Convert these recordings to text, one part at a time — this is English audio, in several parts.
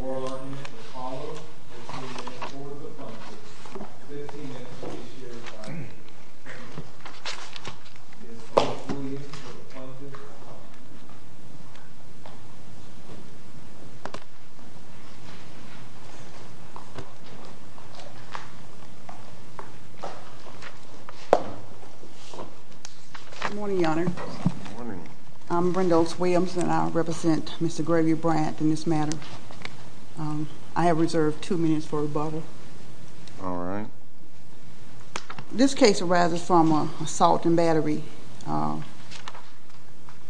Oral arguments will follow as we look at four of the functions. 15 minutes will be shared by you. This case arises from an assault and battery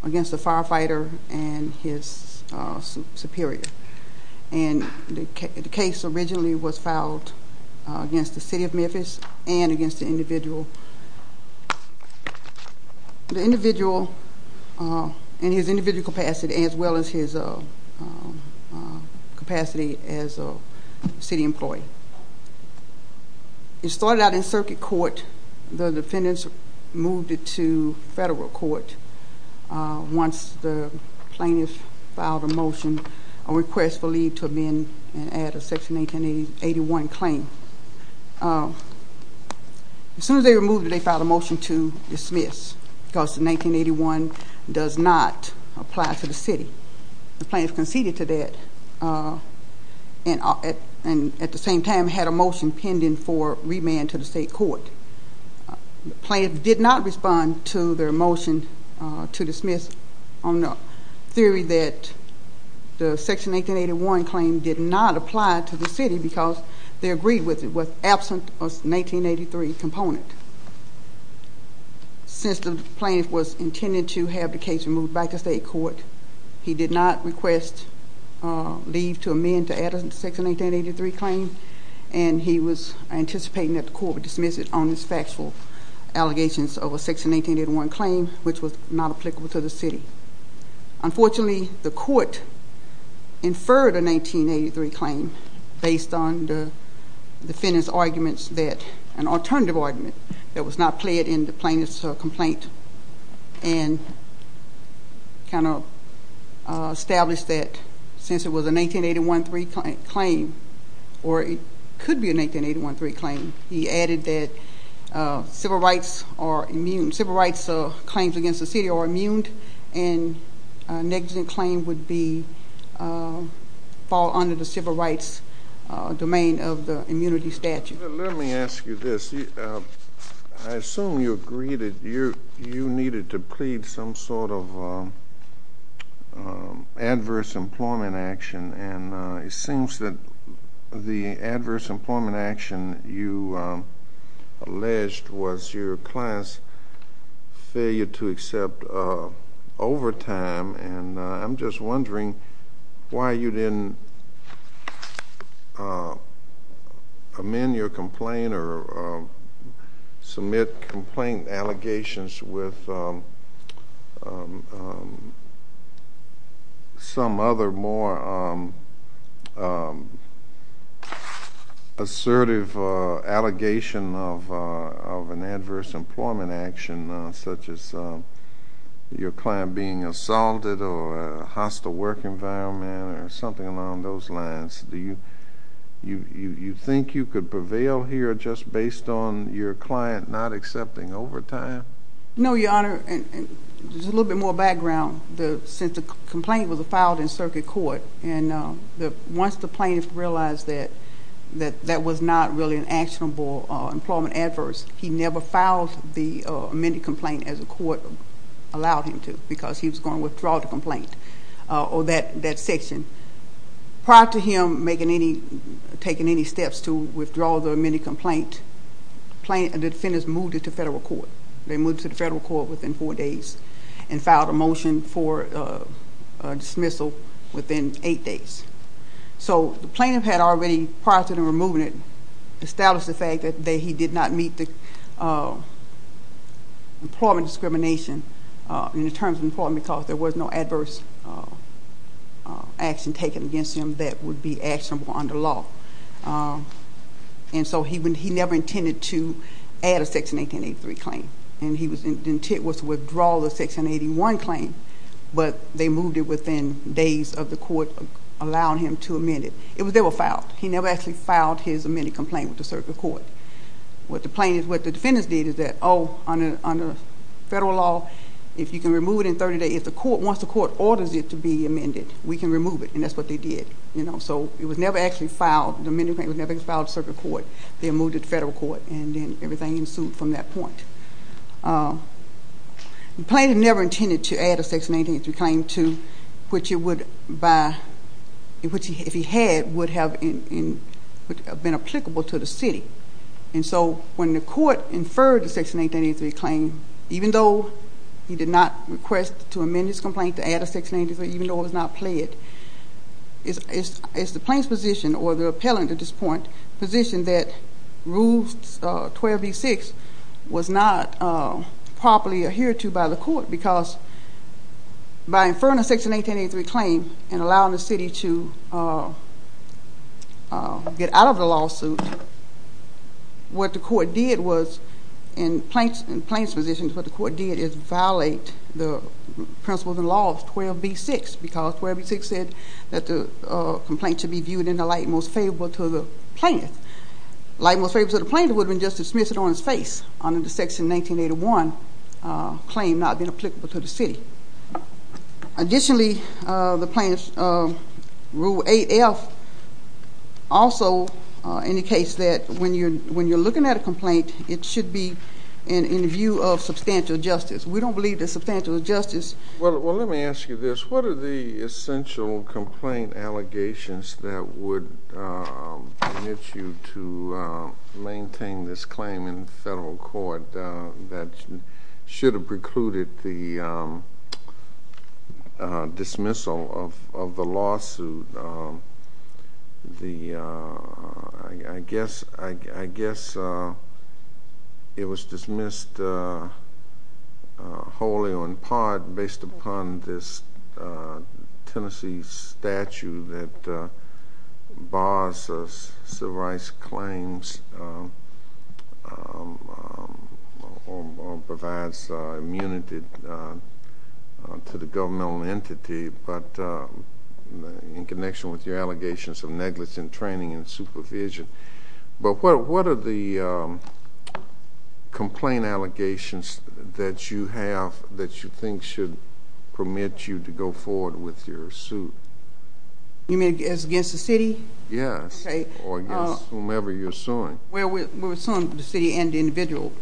against a firefighter and his superior. The case originally was filed in 2011. The plaintiff filed a motion against the City of Memphis and against the individual in his individual capacity as well as his capacity as a city employee. It started out in circuit court. The defendants moved it to federal court. Once the plaintiff filed a motion, a request for leave to amend and add a section 1981 claim. As soon as they were moved, they filed a motion to dismiss because 1981 does not apply to the city. The plaintiff conceded to that and at the same time had a motion pending for remand to the state court. The plaintiff did not respond to their motion to dismiss on the theory that the section 1981 claim did not apply to the city because they agreed with it. The plaintiff was absent of the 1983 component. Since the plaintiff was intending to have the case moved back to state court, he did not request leave to amend to add a section 1983 claim. He was anticipating that the court would dismiss it on his factual allegations of a section 1981 claim which was not applicable to the city. Unfortunately, the court inferred a 1983 claim based on the defendants arguments that an alternative argument that was not played in the plaintiff's complaint and kind of established that since it was a 1981-3 claim or it could be a 1981-3 claim, he added that civil rights are immune. Civil rights claims against the city are immune and a negligent claim would fall under the civil rights domain of the immunity statute. Let me ask you this. I assume you agreed that you needed to plead some sort of adverse employment action and it seems that the adverse employment action you alleged was your client's failure to accept overtime. I'm just wondering why you didn't amend your complaint or submit complaint allegations with some other more assertive allegation of an adverse employment action, such as your client being assaulted or a hostile work environment or something along those lines. Do you think you could prevail here just based on your client not accepting overtime? No, Your Honor. Just a little bit more background. Since the complaint was filed in circuit court and once the plaintiff realized that that was not really an actionable employment adverse, he never filed the amended complaint as the court allowed him to because he was going to withdraw the complaint or that section. Prior to him taking any steps to withdraw the amended complaint, the defendants moved it to federal court. They moved it to federal court within four days and filed a motion for dismissal within eight days. The plaintiff had already, prior to the removal, established the fact that he did not meet the employment discrimination in the terms of employment because there was no adverse action taken against him that would be actionable under law. He never intended to add a section 1883 claim. His intent was to withdraw the section 1881 claim, but they moved it within days of the court allowing him to amend it. It was never filed. He never actually filed his amended complaint with the circuit court. What the defendants did is that, oh, under federal law, if you can remove it in 30 days, once the court orders it to be amended, we can remove it. And that's what they did. It was never actually filed. The amended complaint was never filed in circuit court. They moved it to federal court, and then everything ensued from that point. The plaintiff never intended to add a section 1883 claim to which, if he had, would have been applicable to the city. And so when the court inferred the section 1883 claim, even though he did not request to amend his complaint to add a section 1883, even though it was not pled, it's the plaintiff's position or the appellant at this point's position that Rule 12b-6 was not properly adhered to by the court because by inferring a section 1883 claim and allowing the city to get out of the lawsuit, what the court did was, in the plaintiff's position, what the court did is violate the principles and laws of 12b-6 because 12b-6 said that the complaint should be viewed in the light most favorable to the plaintiff. The light most favorable to the plaintiff would have been just dismissed on his face under the section 1981 claim not being applicable to the city. Additionally, the plaintiff's Rule 8f also indicates that when you're looking at a complaint, it should be in the view of substantial justice. We don't believe that substantial justice... Well, let me ask you this. What are the essential complaint allegations that would permit you to maintain this claim in federal court that should have precluded the dismissal of the lawsuit? I guess it was dismissed wholly or in part based upon this Tennessee statute that bars civil rights claims or provides immunity to the governmental entity, but in connection with your allegations of negligence in training and supervision. But what are the complaint allegations that you have that you think should permit you to go forward with your suit? You mean against the city? Yes, or against whomever you're suing. Well, we're suing the city and the individual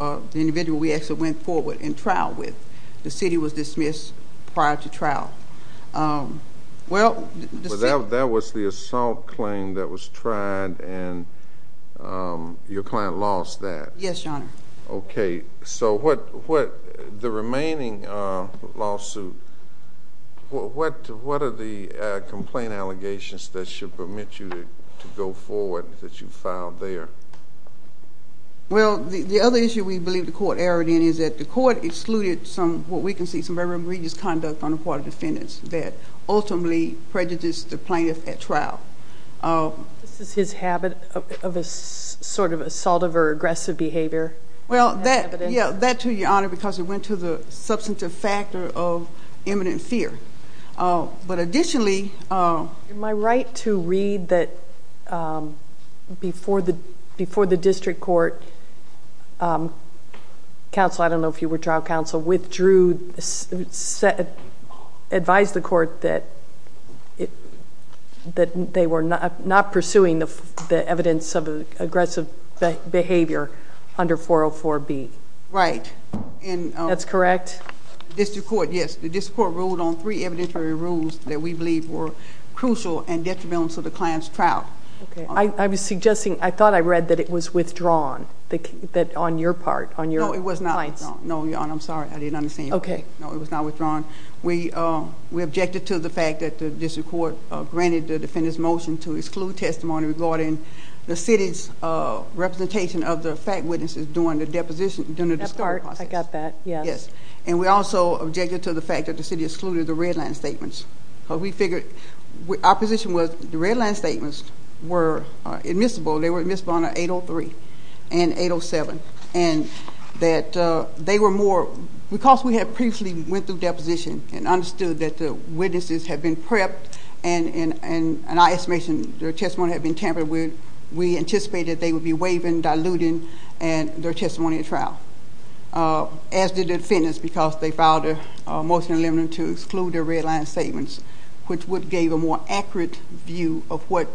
we actually went forward in trial with. The city was dismissed prior to trial. Well, the city... But that was the assault claim that was tried, and your client lost that. Yes, Your Honor. Okay, so the remaining lawsuit, what are the complaint allegations that should permit you to go forward that you filed there? Well, the other issue we believe the court erred in is that the court excluded some, what we can see, some very egregious conduct on the part of defendants that ultimately prejudiced the plaintiff at trial. This is his habit of sort of assaultive or aggressive behavior? Well, that too, Your Honor, because it went to the substantive factor of imminent fear. But additionally... Am I right to read that before the district court counsel, I don't know if you were trial counsel, withdrew, advised the court that they were not pursuing the evidence of aggressive behavior under 404B? Right. That's correct? District court, yes. The district court ruled on three evidentiary rules that we believe were crucial and detrimental to the client's trial. Okay. I was suggesting, I thought I read that it was withdrawn, that on your part, on your client's. No, it was not withdrawn. No, Your Honor, I'm sorry. I didn't understand. Okay. No, it was not withdrawn. We objected to the fact that the district court granted the defendant's motion to exclude testimony regarding the city's representation of the fact witnesses during the deposition, during the discovery process. That part, I got that, yes. And we also objected to the fact that the city excluded the red line statements. We figured, our position was the red line statements were admissible. They were admissible under 803 and 807. And that they were more, because we had previously went through deposition and understood that the witnesses had been prepped and our estimation, their testimony had been tampered with, we anticipated they would be waiving, diluting their testimony at trial. As did the defendants, because they filed a motion to exclude their red line statements, which would give a more accurate view of what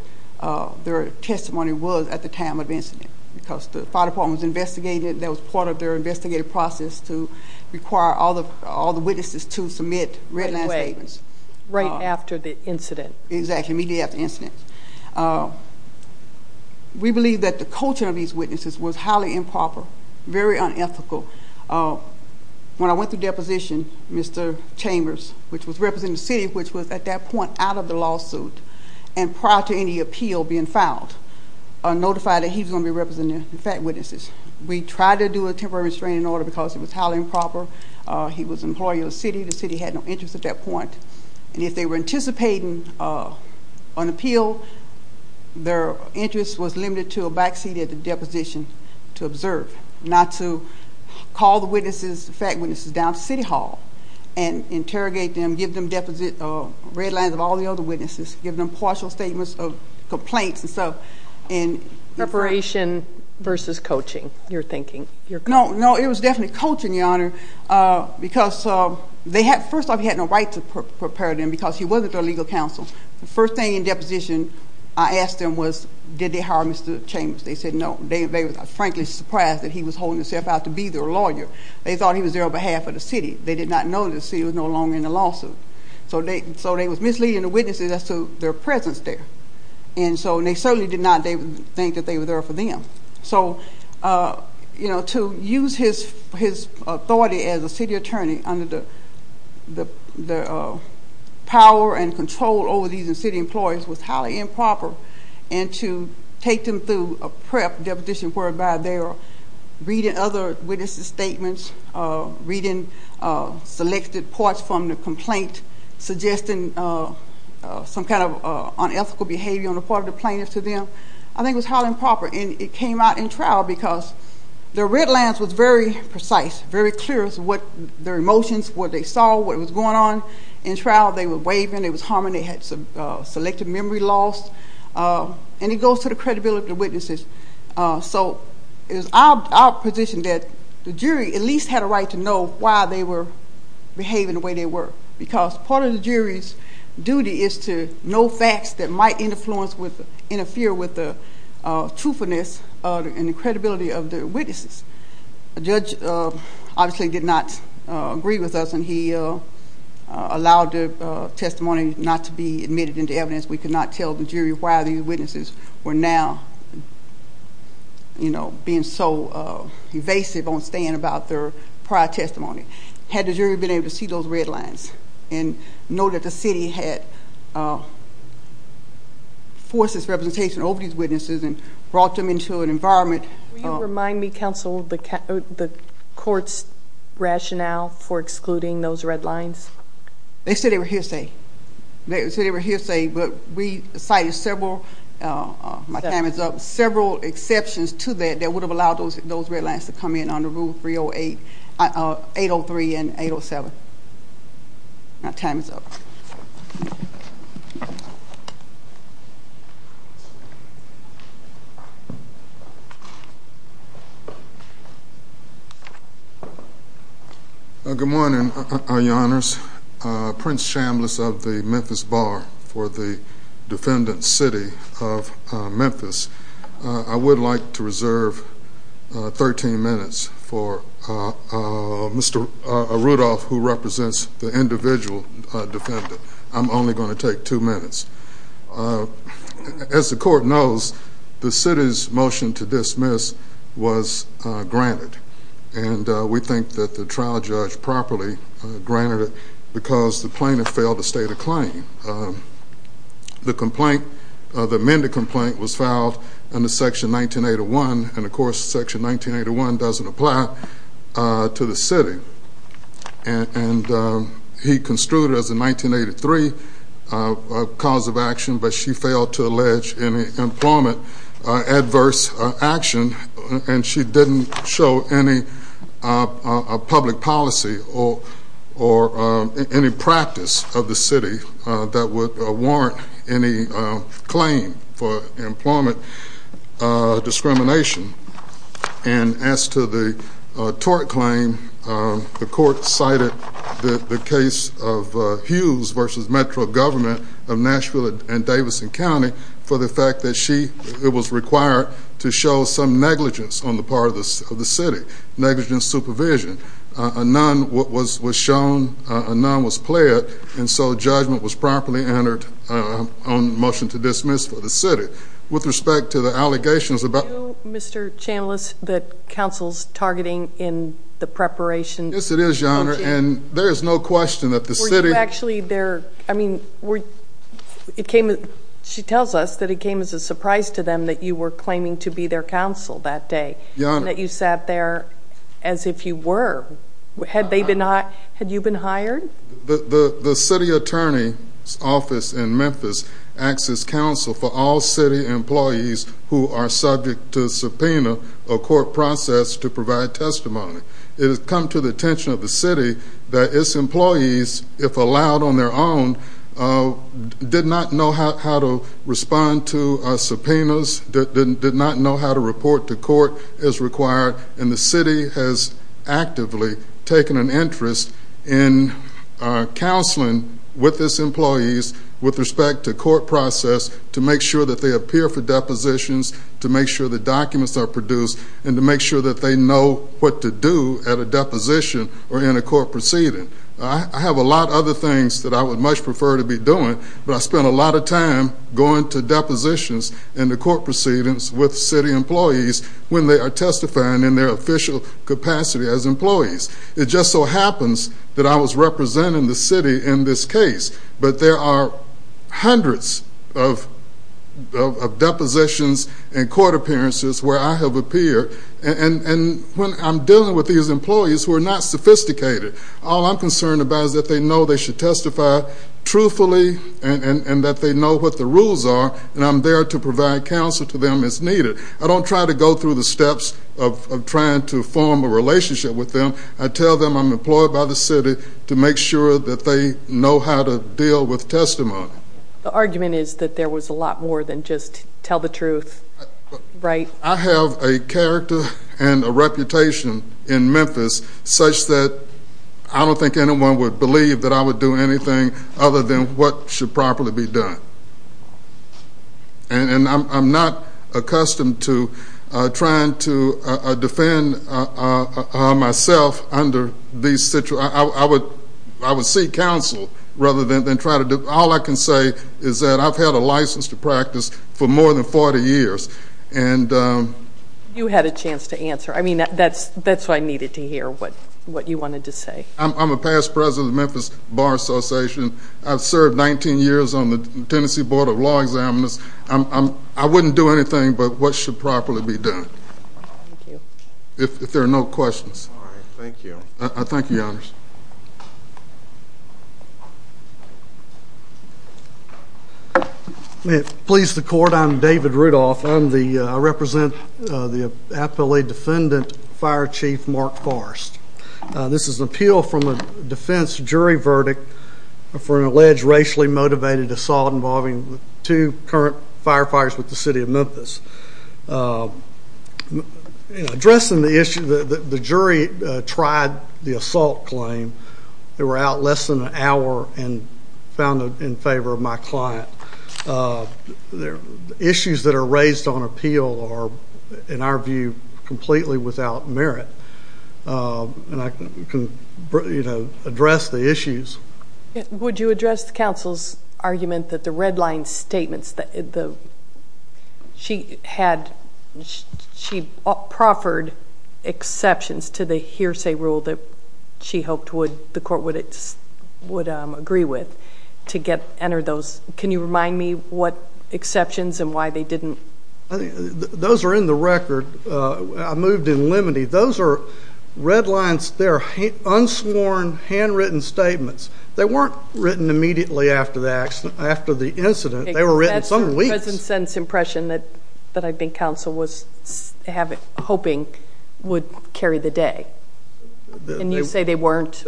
their testimony was at the time of the incident. Because the file department was investigated, that was part of their investigative process to require all the witnesses to submit red line statements. Right after the incident. Exactly, immediately after the incident. We believe that the coaching of these witnesses was highly improper, very unethical. When I went through deposition, Mr. Chambers, which was representing the city, which was at that point out of the lawsuit, and prior to any appeal being filed, notified that he was going to be representing the fact witnesses. We tried to do a temporary restraining order because it was highly improper. He was an employee of the city. The city had no interest at that point. If they were anticipating an appeal, their interest was limited to a backseat at the deposition to observe, not to call the witnesses, the fact witnesses, down to city hall and interrogate them, give them red lines of all the other witnesses, give them partial statements of complaints and stuff. Preparation versus coaching, you're thinking. No, it was definitely coaching, Your Honor, because first off, he had no right to prepare them because he wasn't their legal counsel. The first thing in deposition I asked them was, did they hire Mr. Chambers? They said no. They were frankly surprised that he was holding himself out to be their lawyer. They thought he was there on behalf of the city. They did not know that the city was no longer in the lawsuit. So they were misleading the witnesses as to their presence there. And so they certainly did not think that they were there for them. So, you know, to use his authority as a city attorney under the power and control over these city employees was highly improper. And to take them through a prep deposition whereby they are reading other witnesses' statements, reading selected parts from the complaint, suggesting some kind of unethical behavior on the part of the plaintiff to them, I think was highly improper. And it came out in trial because the red lines was very precise, very clear as to what their emotions, what they saw, what was going on in trial. They were waving. They were humming. They had some selective memory loss. And it goes to the credibility of the witnesses. So it was our position that the jury at least had a right to know why they were behaving the way they were, because part of the jury's duty is to know facts that might interfere with the truthfulness and the credibility of the witnesses. The judge obviously did not agree with us, and he allowed the testimony not to be admitted into evidence. We could not tell the jury why these witnesses were now, you know, being so evasive on staying about their prior testimony. Had the jury been able to see those red lines and know that the city had forced its representation over these witnesses and brought them into an environment? Will you remind me, counsel, the court's rationale for excluding those red lines? They said they were hearsay. They said they were hearsay, but we cited several, my time is up, several exceptions to that that would have allowed those red lines to come in under Rule 308, 803, and 807. My time is up. Good morning, Your Honors. Prince Chambliss of the Memphis Bar for the defendant's city of Memphis. I would like to reserve 13 minutes for Mr. Rudolph, who represents the individual defendant. I'm only going to take two minutes. As the court knows, the city's motion to dismiss was granted, and we think that the trial judge properly granted it because the plaintiff failed to state a claim. The complaint, the amended complaint, was filed under Section 1981, and of course Section 1981 doesn't apply to the city. And he construed it as a 1983 cause of action, but she failed to allege any employment adverse action, and she didn't show any public policy or any practice of the city that would warrant any claim for employment discrimination. And as to the tort claim, the court cited the case of Hughes v. Metro Government of Nashville and Davidson County for the fact that she was required to show some negligence on the part of the city, negligent supervision. A none was shown, a none was pled, and so judgment was properly entered on the motion to dismiss for the city. Do you, Mr. Chanellis, that counsel's targeting in the preparation? Yes, it is, Your Honor, and there is no question that the city— Were you actually there—I mean, it came—she tells us that it came as a surprise to them that you were claiming to be their counsel that day. Your Honor— That you sat there as if you were. Had they been—had you been hired? The city attorney's office in Memphis acts as counsel for all city employees who are subject to subpoena or court process to provide testimony. It has come to the attention of the city that its employees, if allowed on their own, did not know how to respond to subpoenas, did not know how to report to court as required, and the city has actively taken an interest in counseling with its employees with respect to court process to make sure that they appear for depositions, to make sure that documents are produced, and to make sure that they know what to do at a deposition or in a court proceeding. I have a lot of other things that I would much prefer to be doing, but I spend a lot of time going to depositions and to court proceedings with city employees when they are testifying in their official capacity as employees. It just so happens that I was representing the city in this case, but there are hundreds of depositions and court appearances where I have appeared, and when I'm dealing with these employees who are not sophisticated, all I'm concerned about is that they know they should testify truthfully and that they know what the rules are, and I'm there to provide counsel to them as needed. I don't try to go through the steps of trying to form a relationship with them. I tell them I'm employed by the city to make sure that they know how to deal with testimony. The argument is that there was a lot more than just tell the truth, right? I have a character and a reputation in Memphis such that I don't think anyone would believe that I would do anything other than what should properly be done, and I'm not accustomed to trying to defend myself under these situations. I would seek counsel rather than try to do it. All I can say is that I've had a license to practice for more than 40 years. You had a chance to answer. That's why I needed to hear what you wanted to say. I'm a past president of the Memphis Bar Association. I've served 19 years on the Tennessee Board of Law Examiners. I wouldn't do anything but what should properly be done. Thank you. If there are no questions. All right. Thank you. Thank you, Your Honors. May it please the Court, I'm David Rudolph. I represent the Appellee Defendant Fire Chief Mark Forrest. This is an appeal from a defense jury verdict for an alleged racially motivated assault involving two current firefighters with the city of Memphis. In addressing the issue, the jury tried the assault claim. They were out less than an hour and found it in favor of my client. The issues that are raised on appeal are, in our view, completely without merit. And I can address the issues. Would you address the counsel's argument that the red line statements that she had, she proffered exceptions to the hearsay rule that she hoped the court would agree with to enter those. Can you remind me what exceptions and why they didn't? Those are in the record. I moved in limine. Those are red lines. They're unsworn, handwritten statements. They weren't written immediately after the incident. They were written some weeks. That's the President's impression that I think counsel was hoping would carry the day. And you say they weren't.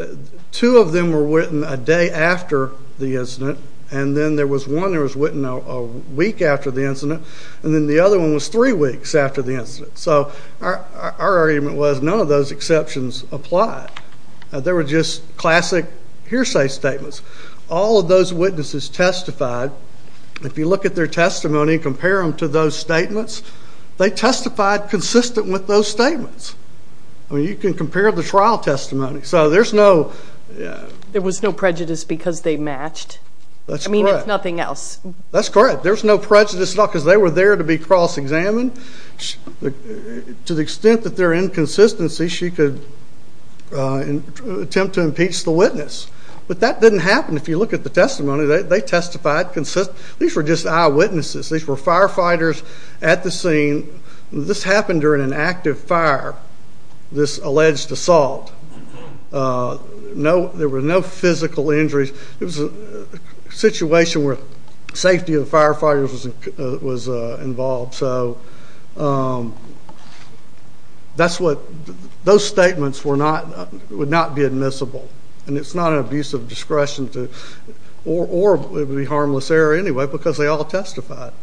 Two of them were written a day after the incident. And then there was one that was written a week after the incident. And then the other one was three weeks after the incident. So our argument was none of those exceptions apply. They were just classic hearsay statements. All of those witnesses testified. If you look at their testimony and compare them to those statements, they testified consistent with those statements. I mean, you can compare the trial testimony. So there's no— There was no prejudice because they matched. That's correct. I mean, if nothing else. That's correct. There's no prejudice at all because they were there to be cross-examined. To the extent that there are inconsistencies, she could attempt to impeach the witness. But that didn't happen. If you look at the testimony, they testified consistent. These were just eyewitnesses. These were firefighters at the scene. This happened during an active fire, this alleged assault. There were no physical injuries. It was a situation where safety of the firefighters was involved. So that's what—those statements would not be admissible. And it's not an abuse of discretion to—or it would be harmless error anyway because they all testified.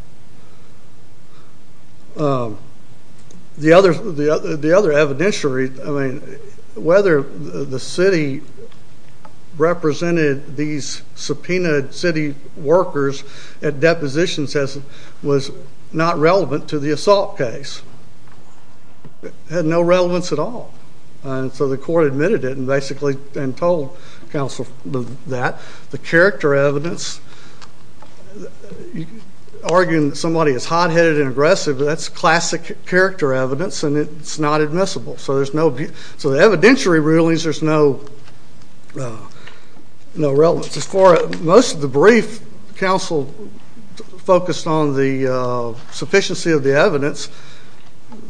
The other evidentiary, I mean, whether the city represented these subpoenaed city workers at depositions was not relevant to the assault case. It had no relevance at all. And so the court admitted it and basically told counsel that. The character evidence, arguing that somebody is hot-headed and aggressive, that's classic character evidence, and it's not admissible. So there's no—so the evidentiary rulings, there's no relevance. As far as most of the brief, counsel focused on the sufficiency of the evidence.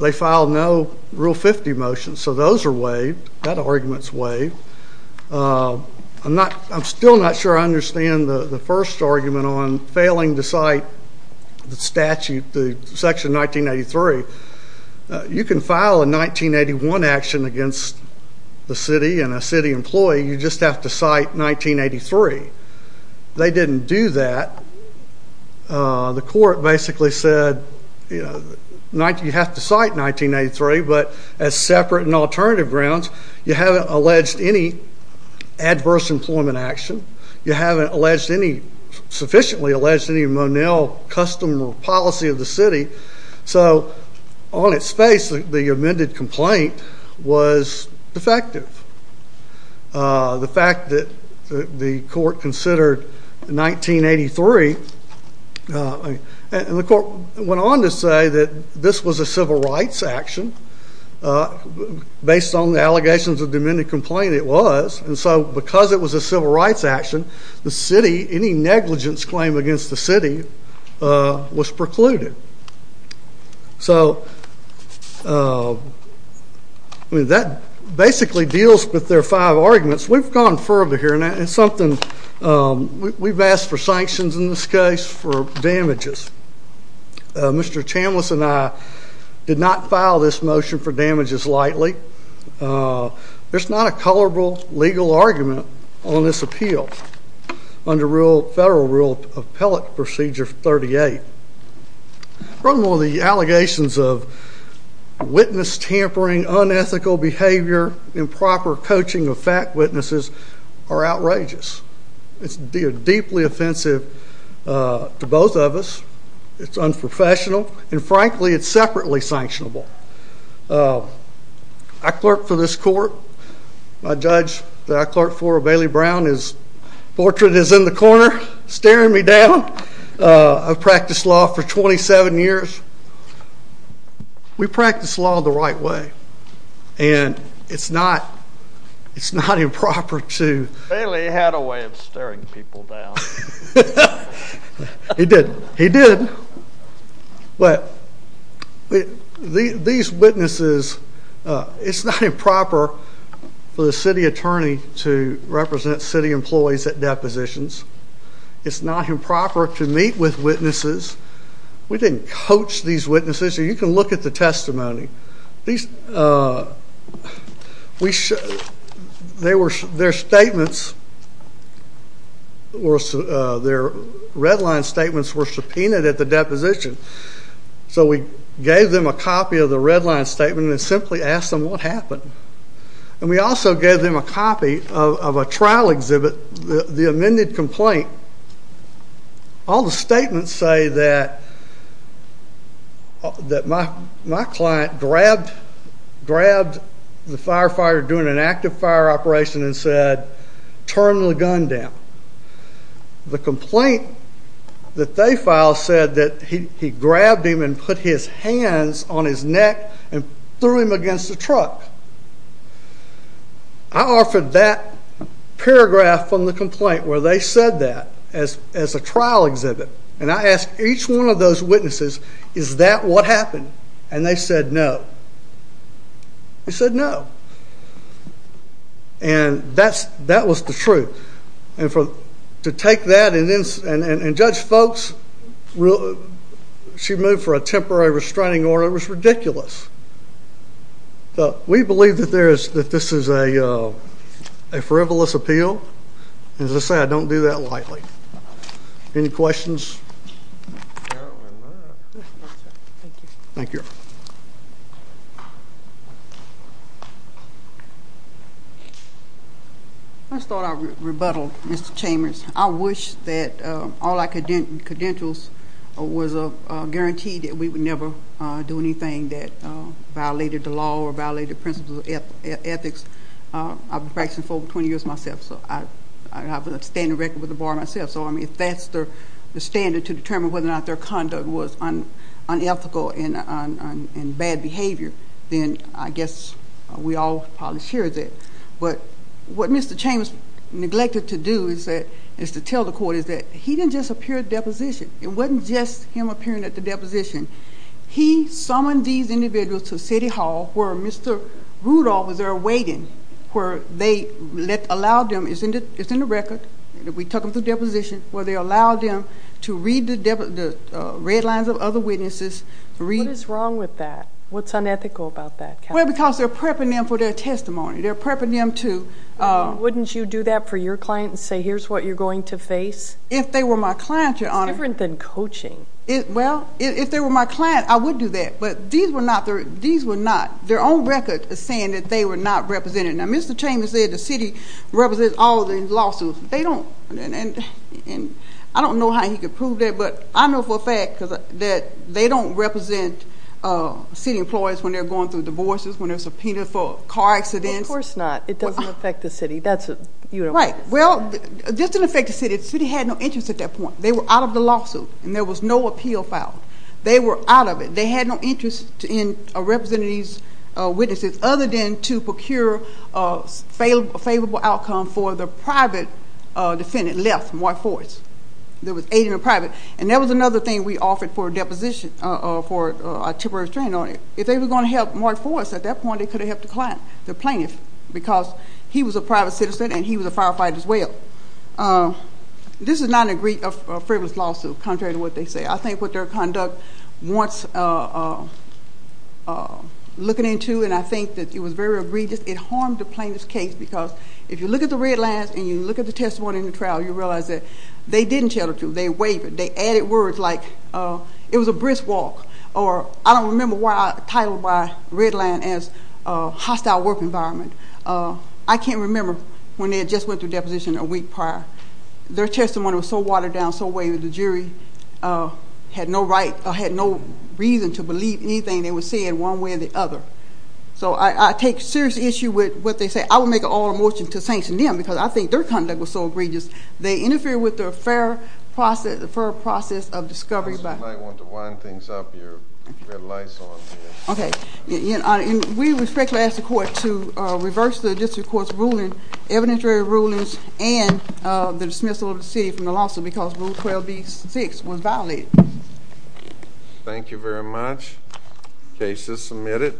They filed no Rule 50 motions. So those are waived. That argument is waived. I'm still not sure I understand the first argument on failing to cite the statute, the section 1983. You can file a 1981 action against the city and a city employee. You just have to cite 1983. They didn't do that. The court basically said, you know, you have to cite 1983, but as separate and alternative grounds, you haven't alleged any adverse employment action. You haven't alleged any—sufficiently alleged any—Monell custom or policy of the city. So on its face, the amended complaint was defective. The fact that the court considered 1983—and the court went on to say that this was a civil rights action. Based on the allegations of the amended complaint, it was. And so because it was a civil rights action, the city—any negligence claim against the city was precluded. So that basically deals with their five arguments. We've gone further here, and it's something—we've asked for sanctions in this case for damages. Mr. Chambliss and I did not file this motion for damages lightly. There's not a colorable legal argument on this appeal under Federal Rule Appellate Procedure 38. Probably one of the allegations of witness tampering, unethical behavior, improper coaching of fact witnesses are outrageous. It's deeply offensive to both of us. It's unprofessional, and frankly, it's separately sanctionable. I clerked for this court. My judge that I clerked for, Bailey Brown, his portrait is in the corner staring me down. I've practiced law for 27 years. We practice law the right way, and it's not improper to— Bailey had a way of staring people down. He did. He did. But these witnesses—it's not improper for the city attorney to represent city employees at depositions. It's not improper to meet with witnesses. We didn't coach these witnesses. You can look at the testimony. These—we—their statements—their redline statements were subpoenaed at the deposition, so we gave them a copy of the redline statement and simply asked them what happened. And we also gave them a copy of a trial exhibit, the amended complaint. All the statements say that my client grabbed the firefighter doing an active fire operation and said, turn the gun down. The complaint that they filed said that he grabbed him and put his hands on his neck and threw him against the truck. I offered that paragraph from the complaint where they said that as a trial exhibit, and I asked each one of those witnesses, is that what happened? And they said no. They said no. And that was the truth. And to take that and judge folks—she moved for a temporary restraining order. It was ridiculous. We believe that this is a frivolous appeal. And as I said, I don't do that lightly. Any questions? Thank you. I just thought I'd rebuttal, Mr. Chambers. I wish that all our credentials were guaranteed that we would never do anything that violated the law or violated the principles of ethics. I've been practicing for over 20 years myself, so I have a standing record with the bar myself. So, I mean, if that's the standard to determine whether or not their conduct was unethical and bad behavior, then I guess we all probably share that. But what Mr. Chambers neglected to do is to tell the court is that he didn't just appear at the deposition. It wasn't just him appearing at the deposition. He summoned these individuals to City Hall where Mr. Rudolph was there waiting, where they allowed them—it's in the record. We took them to the deposition where they allowed them to read the red lines of other witnesses. What is wrong with that? What's unethical about that? Well, because they're prepping them for their testimony. They're prepping them to— Wouldn't you do that for your client and say, here's what you're going to face? If they were my client, Your Honor— It's different than coaching. Well, if they were my client, I would do that. But these were not—their own record is saying that they were not represented. Now, Mr. Chambers said the city represents all of these lawsuits. They don't, and I don't know how he could prove that. But I know for a fact that they don't represent city employees when they're going through divorces, when they're subpoenaed for car accidents. Of course not. It doesn't affect the city. That's a— Right. Well, it doesn't affect the city. The city had no interest at that point. They were out of the lawsuit, and there was no appeal filed. They were out of it. They had no interest in representing these witnesses other than to procure a favorable outcome for the private defendant left, Mark Forrest. There was aid in the private. And that was another thing we offered for a deposition, for a temporary restraint on it. If they were going to help Mark Forrest at that point, they could have helped the plaintiff because he was a private citizen and he was a firefighter as well. This is not a frivolous lawsuit, contrary to what they say. I think what their conduct was looking into, and I think that it was very egregious, it harmed the plaintiff's case because if you look at the red lines and you look at the testimony in the trial, you realize that they didn't tell the truth. They wavered. They added words like it was a brisk walk, or I don't remember why I titled my red line as hostile work environment. I can't remember when they had just went through deposition a week prior. Their testimony was so watered down, so wavered, the jury had no reason to believe anything they were saying one way or the other. So I take serious issue with what they say. I would make an all-out motion to sanction them because I think their conduct was so egregious. They interfered with the fair process of discovery. You might want to wind things up. You have lights on. Okay. We respectfully ask the court to reverse the district court's ruling, evidentiary rulings, and the dismissal of the city from the lawsuit because Rule 12b-6 was violated. Thank you very much. Case is submitted.